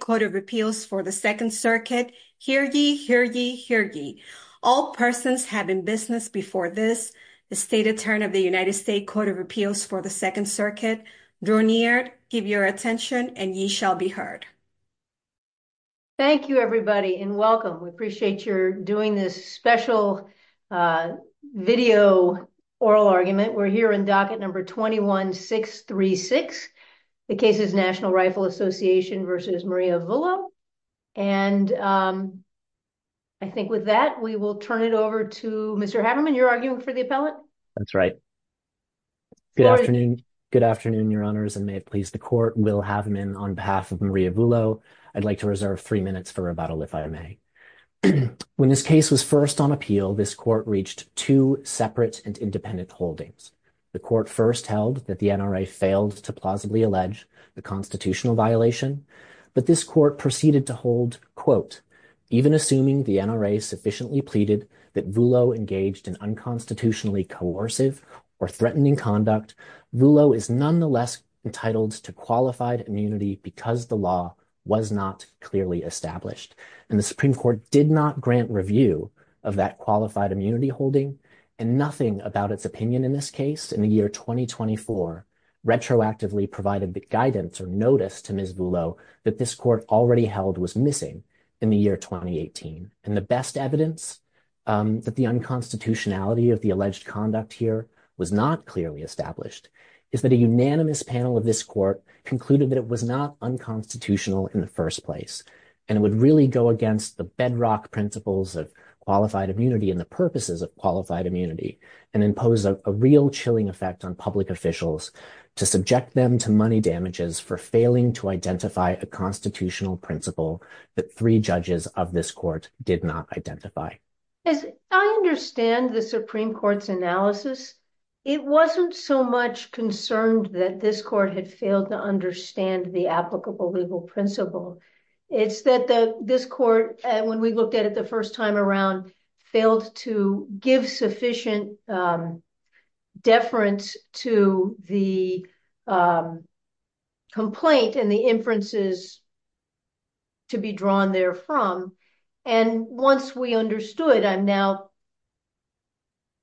Court of Appeals for the Second Circuit. Hear ye, hear ye, hear ye. All persons have been business before this. The State Attorney of the United States Court of Appeals for the Second Circuit, Drew Neard, give your attention and ye shall be heard. Thank you everybody and welcome. We appreciate your doing this special video oral argument. We're here in docket number 21-636, the case is National Rifle Association v. Maria Vullo and I think with that we will turn it over to Mr. Haverman. You're arguing for the appellate? That's right. Good afternoon. Good afternoon, your honors and may it please the court. Will Haverman on behalf of Maria Vullo. I'd like to reserve three minutes for rebuttal if I may. When this case was first on appeal, this court reached two separate and independent holdings. The court first held that the NRA failed to plausibly allege the constitutional violation but this court proceeded to hold, quote, even assuming the NRA sufficiently pleaded that Vullo engaged in unconstitutionally coercive or threatening conduct, Vullo is nonetheless entitled to qualified immunity because the law was not clearly established and the Supreme Court did not grant review of that qualified immunity. The Supreme Court in 2024 retroactively provided guidance or notice to Ms. Vullo that this court already held was missing in the year 2018 and the best evidence that the unconstitutionality of the alleged conduct here was not clearly established is that a unanimous panel of this court concluded that it was not unconstitutional in the first place and it would really go against the bedrock principles of qualified immunity and the purposes of qualified immunity and impose a chilling effect on public officials to subject them to money damages for failing to identify a constitutional principle that three judges of this court did not identify. As I understand the Supreme Court's analysis, it wasn't so much concerned that this court had failed to understand the applicable legal principle. It's that this court, when we looked at it the first time around, failed to give sufficient deference to the complaint and the inferences to be drawn there from and once we understood, I'm now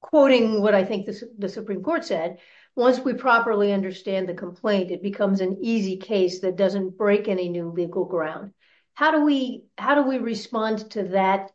quoting what I think the Supreme Court said, once we properly understand the complaint it becomes an easy case that doesn't break any legal ground. How do we respond to that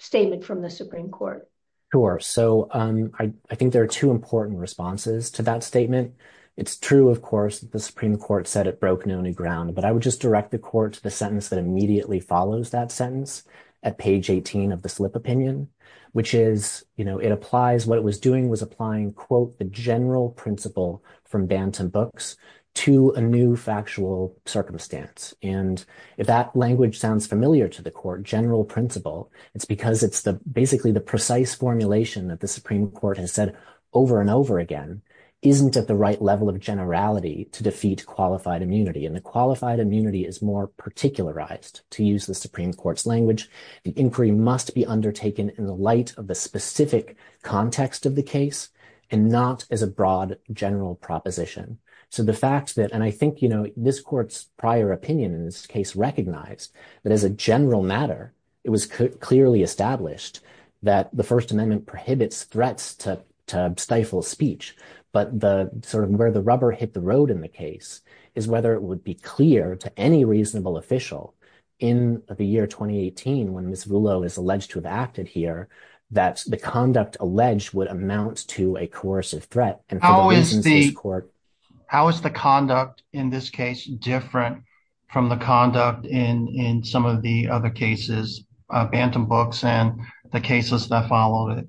statement from the Supreme Court? Sure, so I think there are two important responses to that statement. It's true, of course, the Supreme Court said it broke no new ground, but I would just direct the court to the sentence that immediately follows that sentence at page 18 of the slip opinion, which is, you know, it applies, what it was doing was applying, quote, the general principle from Banton Books to a new factual circumstance and if that language sounds familiar to the court, general principle, it's because it's basically the precise formulation that the Supreme Court has said over and over again isn't at the right level of generality to defeat qualified immunity and the qualified immunity is more particularized. To use the Supreme Court's language, the inquiry must be undertaken in the light of the specific context of the case and not as a broad general proposition. So the fact that, and I think, you know, this court's prior opinion in this case recognized that as a general matter, it was clearly established that the First Amendment prohibits threats to stifle speech, but the sort of where the rubber hit the road in the case is whether it would be clear to any reasonable official in the year 2018 when Ms. Rouleau is alleged to have acted here that the conduct alleged would amount to a coercive threat and court. How is the conduct in this case different from the conduct in some of the other cases of Banton Books and the cases that followed it?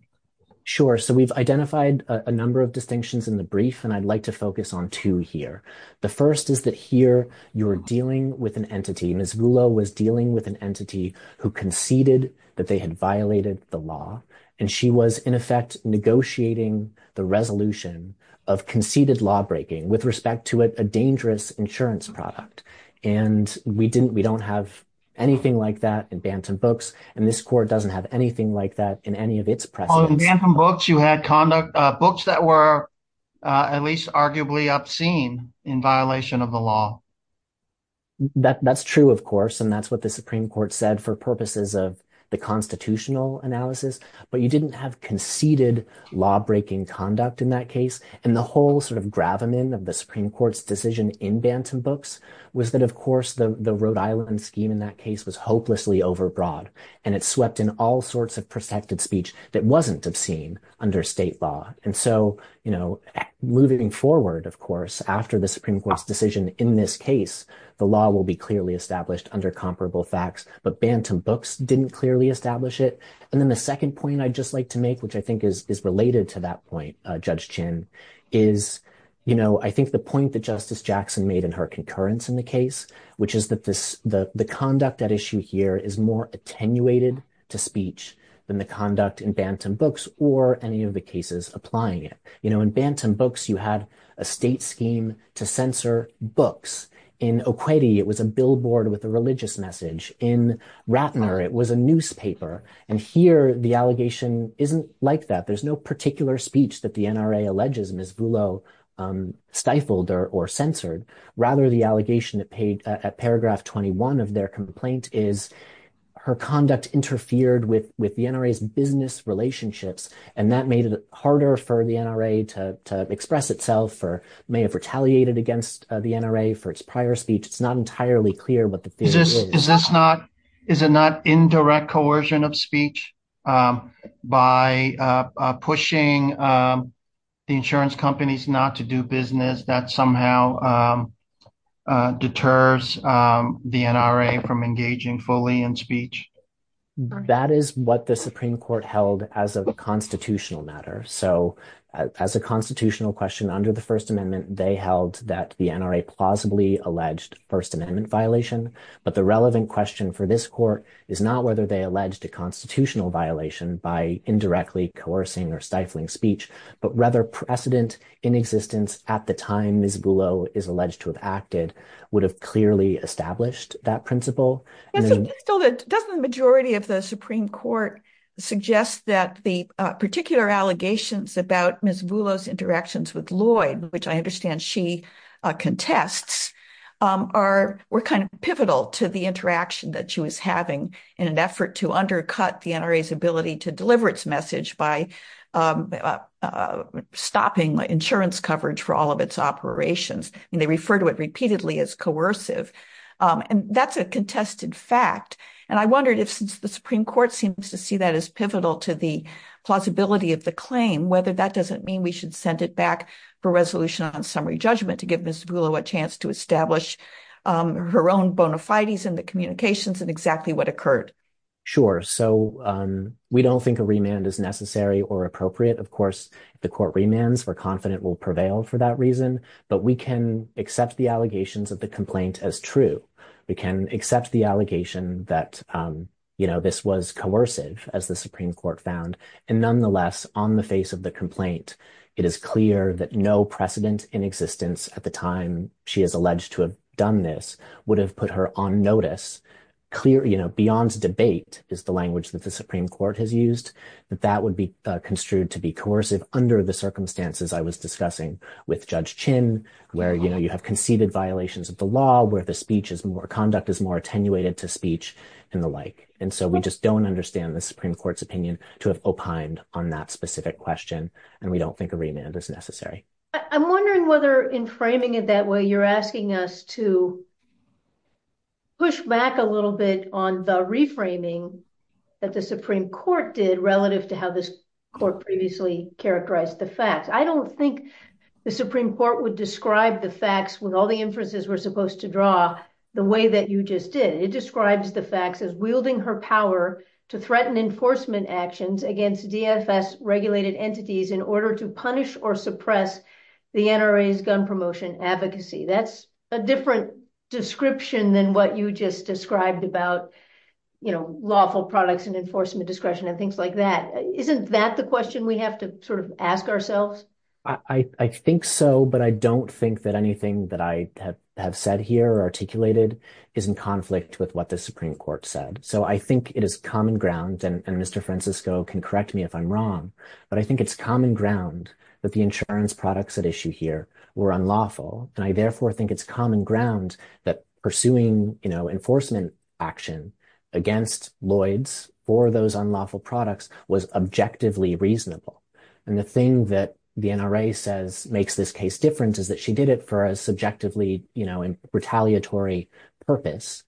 Sure, so we've identified a number of distinctions in the brief and I'd like to focus on two here. The first is that here you're dealing with an entity, Ms. Rouleau was dealing with an entity who conceded that they had violated the law and she was in effect negotiating the resolution of conceded lawbreaking with respect to a dangerous insurance product and we didn't, we don't have anything like that in Banton Books and this court doesn't have anything like that in any of its precedents. In Banton Books you had conduct, books that were at least arguably obscene in violation of the law. That's true, of course, and that's what the Supreme Court said for purposes of the constitutional analysis, but you didn't have conceded lawbreaking conduct in that case and the whole sort of gravamen of the Supreme Court's decision in Banton Books was that, of course, the Rhode Island scheme in that case was hopelessly overbroad and it swept in all sorts of protected speech that wasn't obscene under state law and so, you know, moving forward, of course, after the Supreme Court's decision in this case, the law will be clearly established under comparable facts but Banton Books didn't clearly establish it and then the second point I'd just like to make, which I think is related to that point, Judge Chin, is, you know, I think the point that Justice Jackson made in her concurrence in the case, which is that this, the conduct at issue here is more attenuated to speech than the conduct in Banton Books or any of the cases applying it. You know, in Banton Books you had a state scheme to censor books. In Okweti, it was a billboard with a religious message. In Ratner, it was a newspaper and here the allegation isn't like that. There's no particular speech that the NRA alleges Ms. Vullo stifled or censored. Rather, the allegation at paragraph 21 of their complaint is her conduct interfered with the NRA's business relationships and that made it harder for the NRA to express itself or may have retaliated against the NRA for its prior speech. It's not entirely clear what the theory is. Is this not, is it not indirect coercion of speech by pushing the insurance companies not to do business that somehow deters the NRA from engaging fully in speech? That is what the Supreme Court held as a constitutional matter. So as a constitutional question under the First Amendment, they held that the NRA plausibly alleged First Amendment violation, but the relevant question for this court is not whether they alleged a constitutional violation by indirectly coercing or stifling speech, but rather precedent in existence at the time Ms. Vullo is alleged to have acted would have clearly established that principle. Doesn't the majority of the Supreme Court suggest that the particular allegations about Ms. Vullo's interactions with Lloyd, which I understand she contests, were kind of pivotal to the interaction that she was having in an effort to undercut the NRA's ability to deliver its message by stopping insurance coverage for all of its operations? I mean they refer to it repeatedly as coercive and that's a contested fact and I wondered if since the Supreme Court seems to see that as pivotal to the plausibility of the whether that doesn't mean we should send it back for resolution on summary judgment to give Ms. Vullo a chance to establish her own bona fides in the communications and exactly what occurred. Sure, so we don't think a remand is necessary or appropriate. Of course, the court remands we're confident will prevail for that reason, but we can accept the allegations of the complaint as true. We can accept the allegation that, you know, this was coercive as the Supreme Court found and nonetheless, on the face of the complaint, it is clear that no precedent in existence at the time she is alleged to have done this would have put her on notice. Clear, you know, beyond debate is the language that the Supreme Court has used that that would be construed to be coercive under the circumstances I was discussing with Judge Chin where, you know, you have conceded violations of the law where the speech is more conduct is more attenuated to speech and the like and so we just don't understand the Supreme Court's opinion to have opined on that specific question and we don't think a remand is necessary. I'm wondering whether in framing it that way you're asking us to push back a little bit on the reframing that the Supreme Court did relative to how this court previously characterized the facts. I don't think the Supreme Court would describe the facts with all the inferences we're supposed to draw the way that you just did. It describes the facts as her power to threaten enforcement actions against DFS regulated entities in order to punish or suppress the NRA's gun promotion advocacy. That's a different description than what you just described about, you know, lawful products and enforcement discretion and things like that. Isn't that the question we have to sort of ask ourselves? I think so, but I don't think that anything that I have said here or articulated is in conflict with what the Supreme Court said. So I think it is common ground and Mr. Francisco can correct me if I'm wrong, but I think it's common ground that the insurance products at issue here were unlawful and I therefore think it's common ground that pursuing, you know, enforcement action against Lloyd's for those unlawful products was objectively reasonable and the thing that the NRA says makes this case different is that she did it for a subjectively, you know, retaliatory purpose.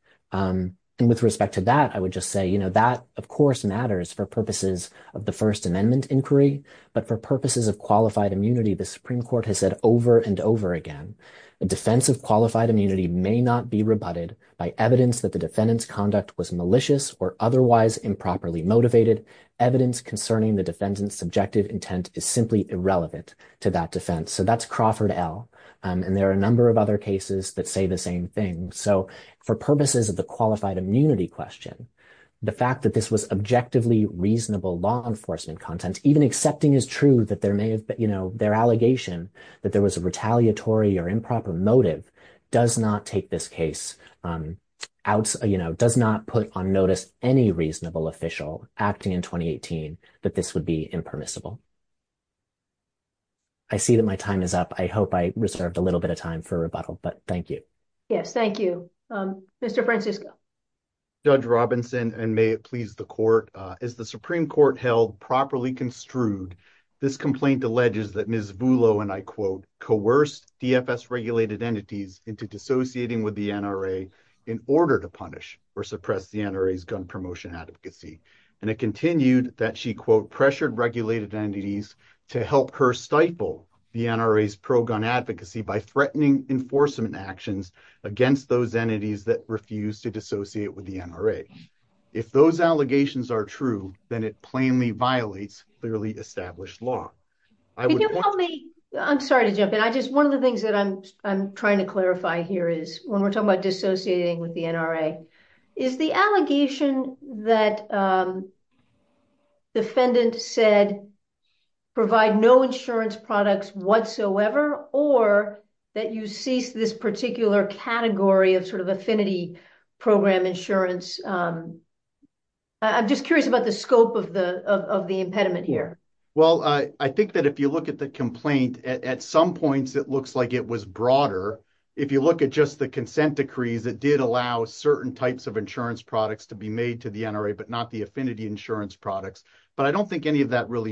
And with respect to that, I would just say, you know, that of course matters for purposes of the First Amendment inquiry, but for purposes of qualified immunity, the Supreme Court has said over and over again, the defense of qualified immunity may not be rebutted by evidence that the defendant's conduct was malicious or otherwise improperly motivated. Evidence concerning the defendant's subjective intent is simply irrelevant to that defense. So there are a number of other cases that say the same thing. So for purposes of the qualified immunity question, the fact that this was objectively reasonable law enforcement content, even accepting as true that there may have been, you know, their allegation that there was a retaliatory or improper motive does not take this case out, you know, does not put on notice any reasonable official acting in 2018 that this would be impermissible. I see that my time is up. I hope I reserved a little bit of time for rebuttal, but thank you. Yes, thank you. Mr. Francisco. Judge Robinson, and may it please the court, as the Supreme Court held properly construed, this complaint alleges that Ms. Vullo, and I quote, coerced DFS regulated entities into dissociating with the NRA in order to punish or suppress the NRA's gun promotion advocacy. And it continued that she quote, pressured regulated entities to help her stifle the pro-gun advocacy by threatening enforcement actions against those entities that refused to dissociate with the NRA. If those allegations are true, then it plainly violates clearly established law. I'm sorry to jump in. I just, one of the things that I'm, I'm trying to clarify here is when we're talking about dissociating with the NRA is the allegation that defendant said provide no insurance products whatsoever, or that you cease this particular category of sort of affinity program insurance. I'm just curious about the scope of the, of the impediment here. Well, I think that if you look at the complaint at some points, it looks like it was broader. If you look at just the consent decrees that did allow certain types of insurance products to be made to the NRA, but not the affinity insurance products. But I don't think any of that really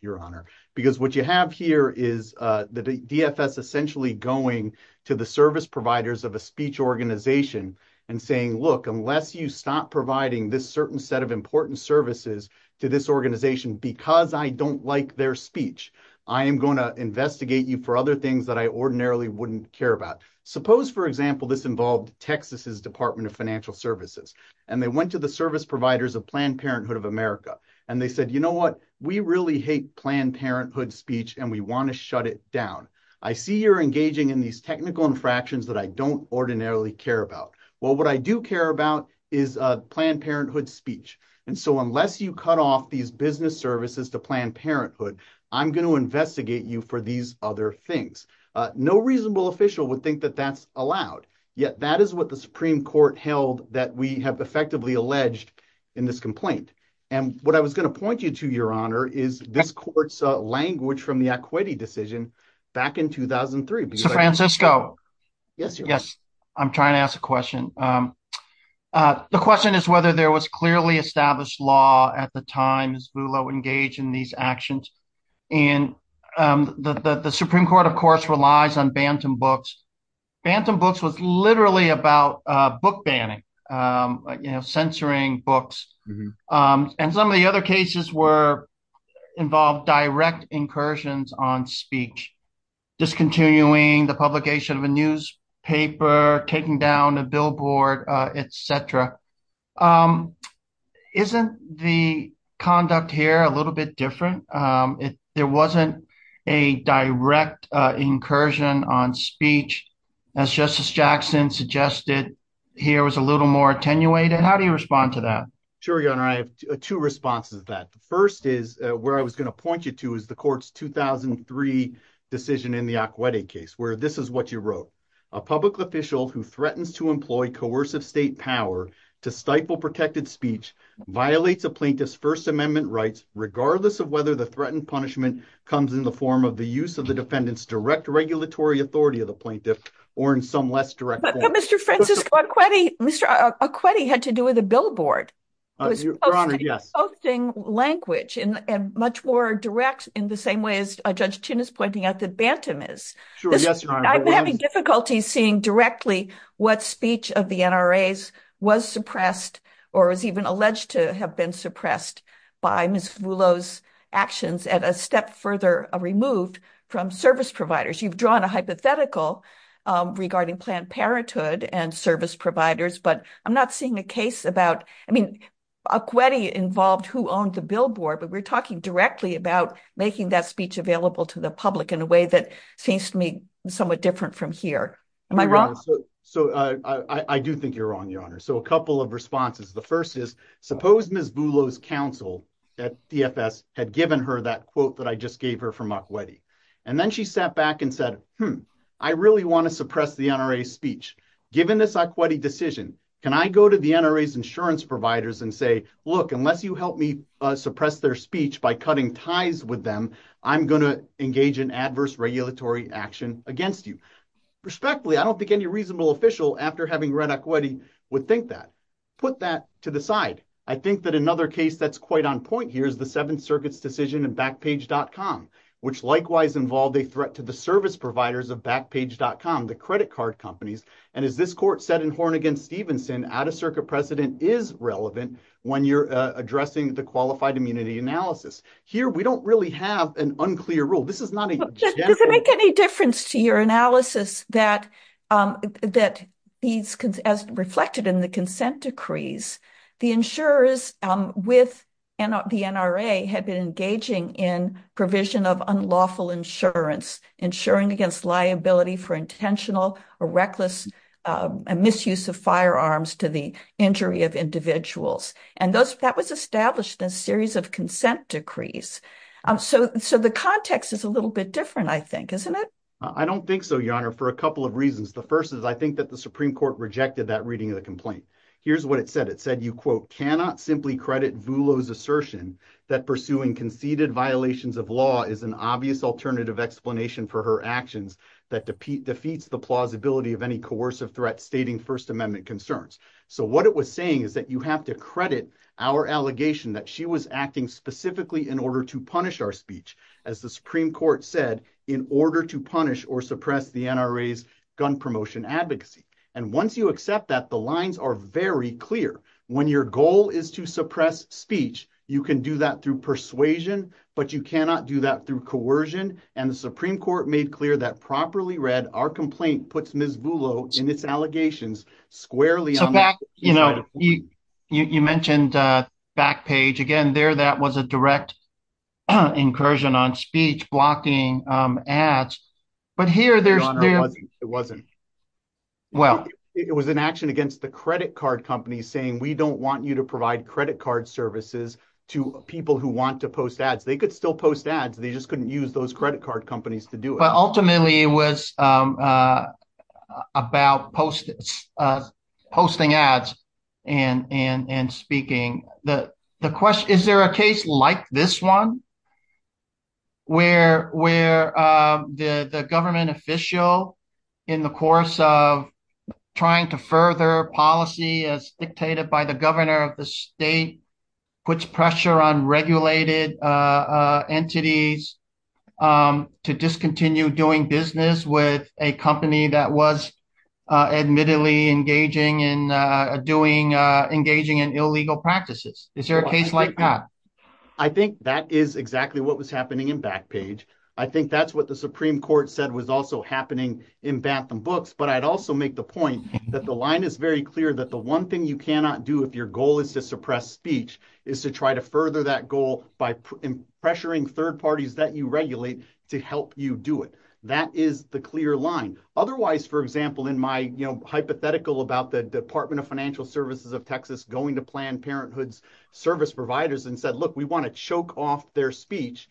your honor, because what you have here is the DFS essentially going to the service providers of a speech organization and saying, look, unless you stop providing this certain set of important services to this organization, because I don't like their speech, I am going to investigate you for other things that I ordinarily wouldn't care about. Suppose for example, this involved Texas's department of financial services, and they went to the service providers of Planned Parenthood of America. And they said, you know what? We really hate Planned Parenthood speech, and we want to shut it down. I see you're engaging in these technical infractions that I don't ordinarily care about. Well, what I do care about is Planned Parenthood speech. And so unless you cut off these business services to Planned Parenthood, I'm going to investigate you for these other things. No reasonable official would think that that's allowed. Yet that is what the and what I was going to point you to your honor is this court's language from the equity decision back in 2003. So Francisco, yes, yes. I'm trying to ask a question. The question is whether there was clearly established law at the time as Lula engaged in these actions. And the Supreme Court, of course, relies on Bantam Books. Bantam Books was literally about book banning, you know, and some of the other cases were involved direct incursions on speech, discontinuing the publication of a newspaper, taking down a billboard, etc. Isn't the conduct here a little bit different? If there wasn't a direct incursion on speech, as Justice Jackson suggested, here was a little more attenuated. How do you respond to that? Sure, your honor. I have two responses to that. The first is where I was going to point you to is the court's 2003 decision in the equity case where this is what you wrote. A public official who threatens to employ coercive state power to stifle protected speech violates a plaintiff's First Amendment rights regardless of whether the threatened punishment comes in the form of the use of the defendant's direct regulatory authority of the plaintiff or in some less direct way. Mr. Francisco, Mr. Aquetti had to do with a billboard. He was posting language and much more direct in the same way as Judge Chin is pointing out that Bantam is. I'm having difficulty seeing directly what speech of the NRAs was suppressed or is even alleged to have been suppressed by Ms. Vullo's actions at a step further removed from service providers. You've planned parenthood and service providers, but I'm not seeing a case about Aquetti involved who owned the billboard, but we're talking directly about making that speech available to the public in a way that seems to me somewhat different from here. Am I wrong? I do think you're wrong, your honor. A couple of responses. The first is suppose Ms. Vullo's counsel at DFS had given her that quote that I just gave her from Aquetti. Then she sat back and said, I really want to hear the NRA speech. Given this Aquetti decision, can I go to the NRAs insurance providers and say, look, unless you help me suppress their speech by cutting ties with them, I'm going to engage in adverse regulatory action against you. Respectfully, I don't think any reasonable official after having read Aquetti would think that. Put that to the side. I think that another case that's quite on point here is the Seventh Circuit's decision in Backpage.com, which likewise involved a threat to the service providers of Backpage.com, the credit card companies. As this court said in Hornigan-Stevenson, out-of-circuit precedent is relevant when you're addressing the qualified immunity analysis. Here, we don't really have an unclear rule. Does it make any difference to your analysis that as reflected in the consent decrees, the insurers with the NRA had been engaging in unlawful insurance, insuring against liability for intentional or reckless misuse of firearms to the injury of individuals. That was established in a series of consent decrees. So the context is a little bit different, I think, isn't it? I don't think so, Your Honor, for a couple of reasons. The first is I think that the Supreme Court rejected that reading of the complaint. Here's what it said. It said, simply credit Vulo's assertion that pursuing conceded violations of law is an obvious alternative explanation for her actions that defeats the plausibility of any coercive threat stating First Amendment concerns. So what it was saying is that you have to credit our allegation that she was acting specifically in order to punish our speech, as the Supreme Court said, in order to punish or suppress the NRA's gun promotion advocacy. And once you accept that, the lines are very clear. When your goal is to suppress speech, you can do that through persuasion, but you cannot do that through coercion. And the Supreme Court made clear that, properly read, our complaint puts Ms. Vulo in its allegations squarely. You mentioned Backpage. Again, there, that was a direct incursion on speech blocking ads. But here there's... Your Honor, it wasn't. Well... It was an action against the credit card companies saying we don't want you to provide credit card services to people who want to post ads. They could still post ads. They just couldn't use those credit card companies to do it. But ultimately, it was about posting ads and speaking. The question, is there a case like this one where the government official, in the course of trying to further policy as dictated by the governor of the state, puts pressure on regulated entities to discontinue doing business with a company that was admittedly engaging in illegal practices? Is there a case like that? I think that is exactly what was happening in Backpage. I think that's what the Supreme Court said was also happening in Bantham Books. But I'd also make the point that the line is very clear that the one thing you cannot do if your goal is to suppress speech is to try to further that goal by pressuring third parties that you regulate to help you do it. That is the clear line. Otherwise, for example, in my hypothetical about the Department of Financial Services of Texas going to Planned Parenthood's service providers and said, look, we want to choke off their speech,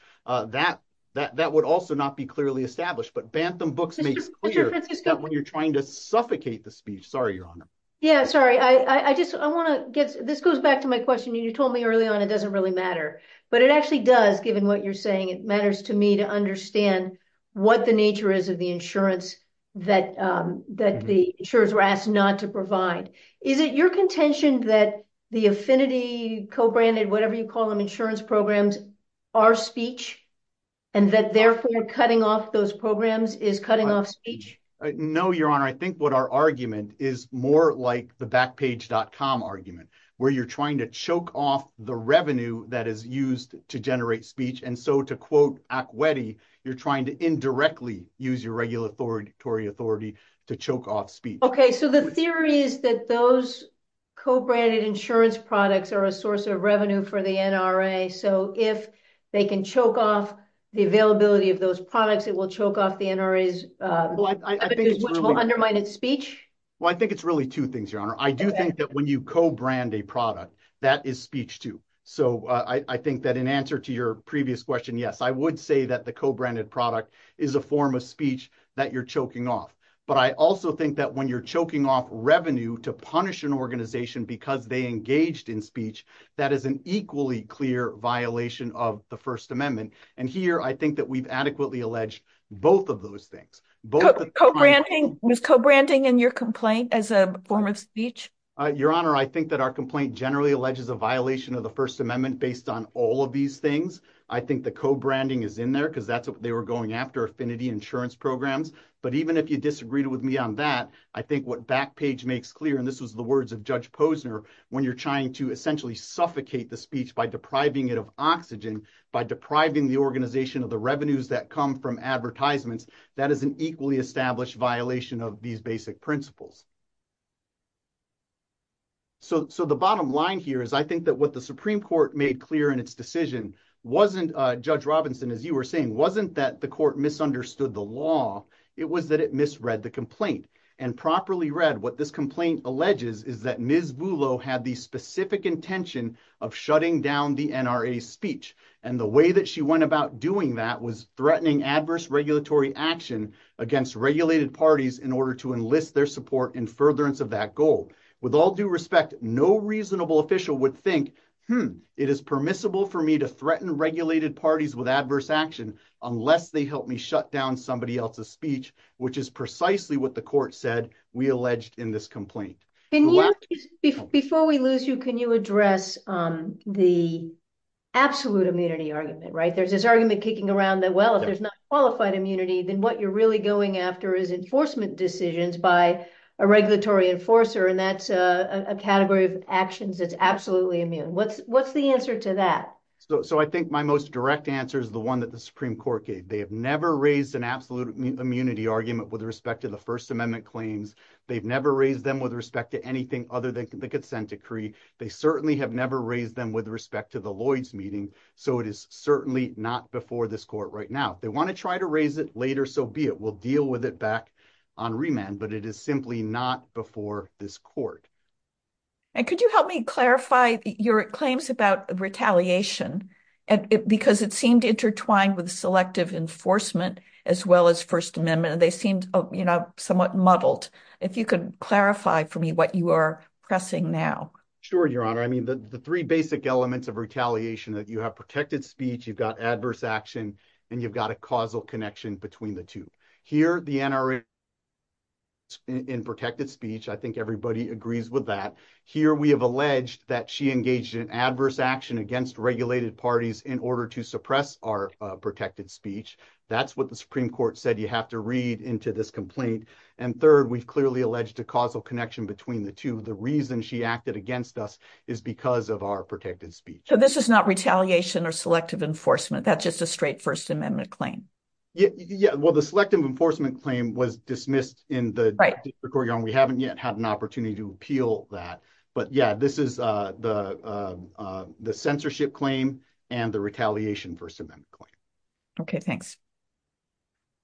that would also not be clearly established. But Bantham Books makes clear that when you're trying to suffocate the speech—sorry, Your Honor. Yeah, sorry. This goes back to my question. You told me early on it doesn't really matter. But it actually does, given what you're saying. It matters to me to understand what the nature is of the insurance that the insurers were asked not to provide. Is it your contention that the affinity, co-branded, whatever you call them, insurance programs are speech, and that therefore cutting off those programs is cutting off speech? No, Your Honor. I think what our argument is more like the Backpage.com argument, where you're trying to choke off the revenue that is used to generate speech. And so to quote Akwetey, you're trying to indirectly use your regulatory authority to choke off speech. So the theory is that those co-branded insurance products are a source of revenue for the NRA. So if they can choke off the availability of those products, it will choke off the NRA's undermined speech? Well, I think it's really two things, Your Honor. I do think that when you co-brand a product, that is speech too. So I think that in answer to your previous question, yes, I would say that the co-branded product is a form of speech that you're choking off. But I also think that when you're choking off revenue to punish an organization because they engaged in speech, that is an equally clear violation of the First Amendment. And here, I think that we've adequately alleged both of those things. Was co-branding in your complaint as a form of speech? Your Honor, I think that our complaint generally alleges a violation of the First Amendment based on all of these things. I think the co-branding is in there because that's what they were going after, Affinity Insurance Programs. But even if you disagreed with me on that, I think what Backpage makes clear, and this was the words of Judge Posner, when you're trying to essentially suffocate the speech by depriving it of oxygen, by depriving the organization of the revenues that come from advertisements, that is an equally established violation of these basic principles. So the bottom line here is I think that what the Supreme Court made clear in its decision, Judge Robinson, as you were saying, wasn't that the court misunderstood the law, it was that it misread the complaint. And properly read, what this complaint alleges is that Ms. Vullo had the specific intention of shutting down the NRA speech. And the way that she went about doing that was threatening adverse regulatory action against regulated parties in order to enlist their support in furtherance of that goal. With all due respect, no reasonable official would think, it is permissible for me to threaten regulated parties with adverse action unless they help me shut down somebody else's speech, which is precisely what the court said we alleged in this complaint. Before we lose you, can you address the absolute immunity argument, right? There's this argument kicking around that, well, if there's not qualified immunity, then what you're really going after is enforcement decisions by a regulatory enforcer, and that's a category of actions that's absolutely immune. What's the answer to that? So I think my most direct answer is the one that the Supreme Court gave. They have never raised an absolute immunity argument with respect to the First Amendment claims. They've never raised them with respect to anything other than the consent decree. They certainly have never raised them with respect to the Lloyds meeting. So it is certainly not before this court right now. They want to try to raise it later, so be it. We'll deal with it back on remand, but it is simply not before this court. And could you help me clarify your claims about retaliation? Because it seemed intertwined with selective enforcement as well as First Amendment, and they seemed somewhat muddled. If you could clarify for me what you are pressing now. Sure, Your Honor. I mean, the three basic elements of retaliation that you have protected speech, you've got adverse action, and you've got a causal connection between the two. Here, the NRA in protected speech, I think everybody agrees with that. Here, we have alleged that she engaged in adverse action against regulated parties in order to suppress our protected speech. That's what the Supreme Court said. You have to read into this complaint. And third, we've clearly alleged a causal connection between the two. The reason she acted against us is because of our protected speech. So this is not retaliation or selective enforcement. That's just a straight amendment claim. Yeah. Well, the selective enforcement claim was dismissed in the court. We haven't yet had an opportunity to appeal that. But yeah, this is the censorship claim and the retaliation First Amendment claim. Okay. Thanks.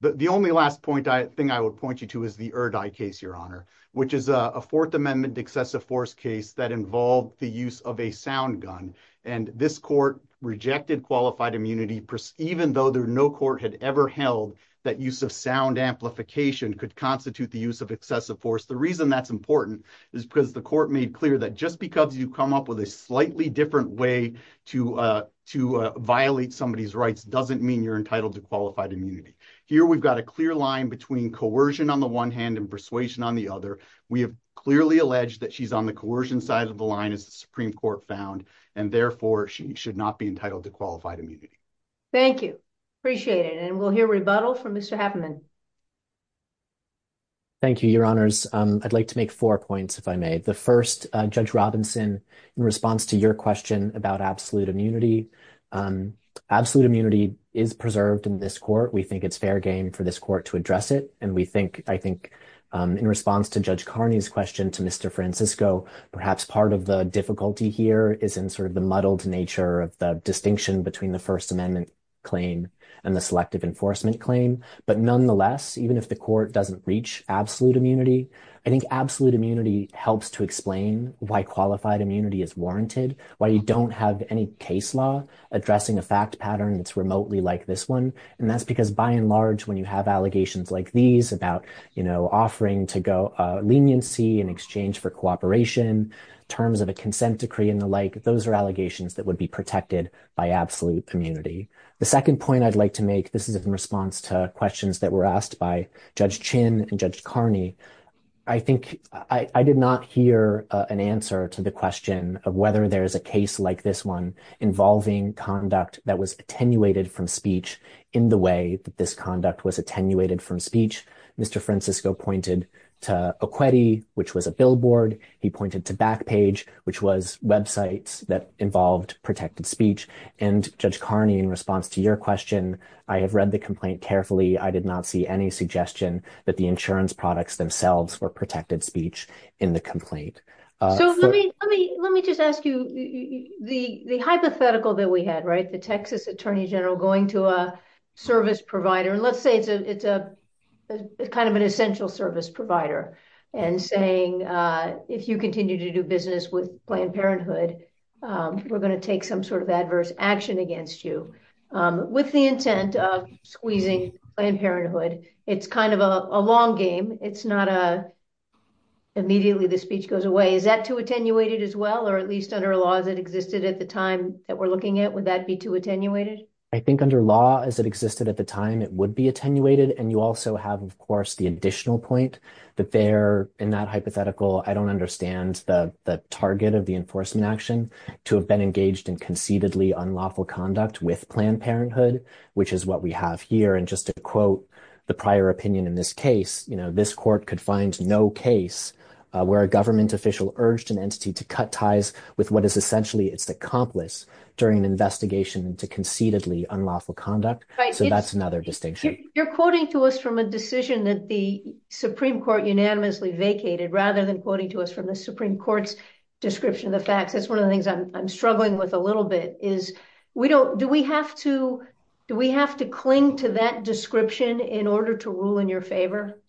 The only last point I think I would point you to is the Erdi case, Your Honor, which is a Fourth Amendment excessive force case that involved the use of a sound gun. This court rejected qualified immunity, even though no court had ever held that use of sound amplification could constitute the use of excessive force. The reason that's important is because the court made clear that just because you come up with a slightly different way to violate somebody's rights doesn't mean you're entitled to qualified immunity. Here, we've got a clear line between coercion on the one hand and persuasion on the other. We have clearly alleged that she's on the coercion side of the line, as the Supreme Court found, and therefore, she should not be entitled to qualified immunity. Thank you. Appreciate it. And we'll hear rebuttal from Mr. Happerman. Thank you, Your Honors. I'd like to make four points, if I may. The first, Judge Robinson, in response to your question about absolute immunity, absolute immunity is preserved in this court. We think it's fair game for this court to address it. And we think, I think, in response to Judge Carney's question to Mr. Francisco, perhaps part of the difficulty here is in sort of the muddled nature of the distinction between the First Amendment claim and the Selective Enforcement claim. But nonetheless, even if the court doesn't reach absolute immunity, I think absolute immunity helps to explain why qualified immunity is warranted, why you don't have any case law addressing a fact pattern that's remotely like this one. And that's because, by and large, when you have allegations like these about, you know, leniency in exchange for cooperation, terms of a consent decree and the like, those are allegations that would be protected by absolute immunity. The second point I'd like to make, this is in response to questions that were asked by Judge Chin and Judge Carney. I think I did not hear an answer to the question of whether there is a case like this one involving conduct that was attenuated from speech in the way that this acquitted, which was a billboard. He pointed to Backpage, which was websites that involved protected speech. And Judge Carney, in response to your question, I have read the complaint carefully. I did not see any suggestion that the insurance products themselves were protected speech in the complaint. So let me let me let me just ask you the hypothetical that we had, right, the Texas attorney general going to a service provider. And let's say it's a kind of an essential service provider and saying, if you continue to do business with Planned Parenthood, we're going to take some sort of adverse action against you with the intent of squeezing Planned Parenthood. It's kind of a long game. It's not a immediately the speech goes away. Is that too attenuated as well, or at least under laws that existed at the time that we're looking at, would that be too attenuated? I think under law as it existed at the time, it would be attenuated. And you also have, of course, the additional point that there in that hypothetical, I don't understand the target of the enforcement action to have been engaged in conceitedly unlawful conduct with Planned Parenthood, which is what we have here. And just to quote the prior opinion in this case, you know, this court could find no case where a government official urged an entity to cut ties with what is essentially its accomplice during an investigation into conceitedly unlawful conduct. So that's another distinction. You're quoting to us from a decision that the Supreme Court unanimously vacated rather than quoting to us from the Supreme Court's description of the facts. That's one of the things I'm struggling with a little bit is we don't, do we have to, do we have to cling to that description in order to rule in your favor?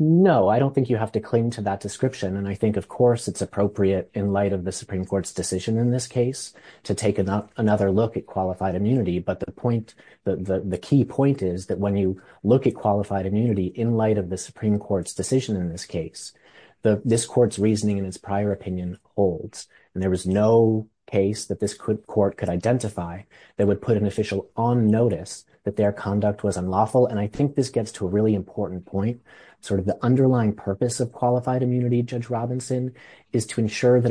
No, I don't think you have to cling to that description. And I think, of course, it's appropriate in light of the Supreme Court's decision in this case to take another look at qualified immunity. But the point, the key point is that when you look at qualified immunity in light of the Supreme Court's decision in this case, this court's reasoning and its prior opinion holds. And there was no case that this court could identify that would put an official on notice that their conduct was unlawful. And I think this gets to a really important point, sort of the underlying purpose of qualified immunity, Judge Robinson, is to ensure that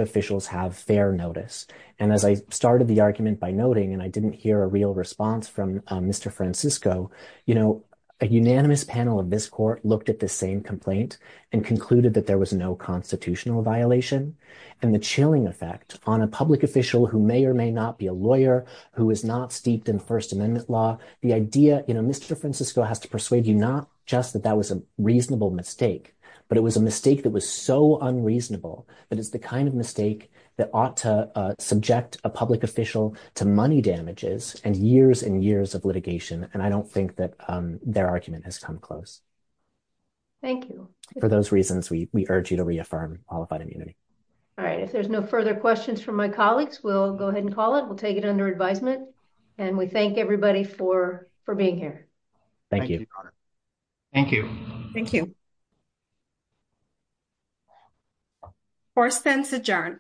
have fair notice. And as I started the argument by noting, and I didn't hear a real response from Mr. Francisco, you know, a unanimous panel of this court looked at the same complaint and concluded that there was no constitutional violation. And the chilling effect on a public official who may or may not be a lawyer, who is not steeped in First Amendment law, the idea, you know, Mr. Francisco has to persuade you not just that that was a reasonable mistake, but it was a mistake that was so unreasonable. But it's the kind of mistake that ought to subject a public official to money damages and years and years of litigation. And I don't think that their argument has come close. Thank you. For those reasons, we urge you to reaffirm qualified immunity. All right. If there's no further questions from my colleagues, we'll go ahead and call it. We'll take it under advisement. And we thank everybody for being here. Thank you. Thank you. Thank you. Fourth sentence adjourned.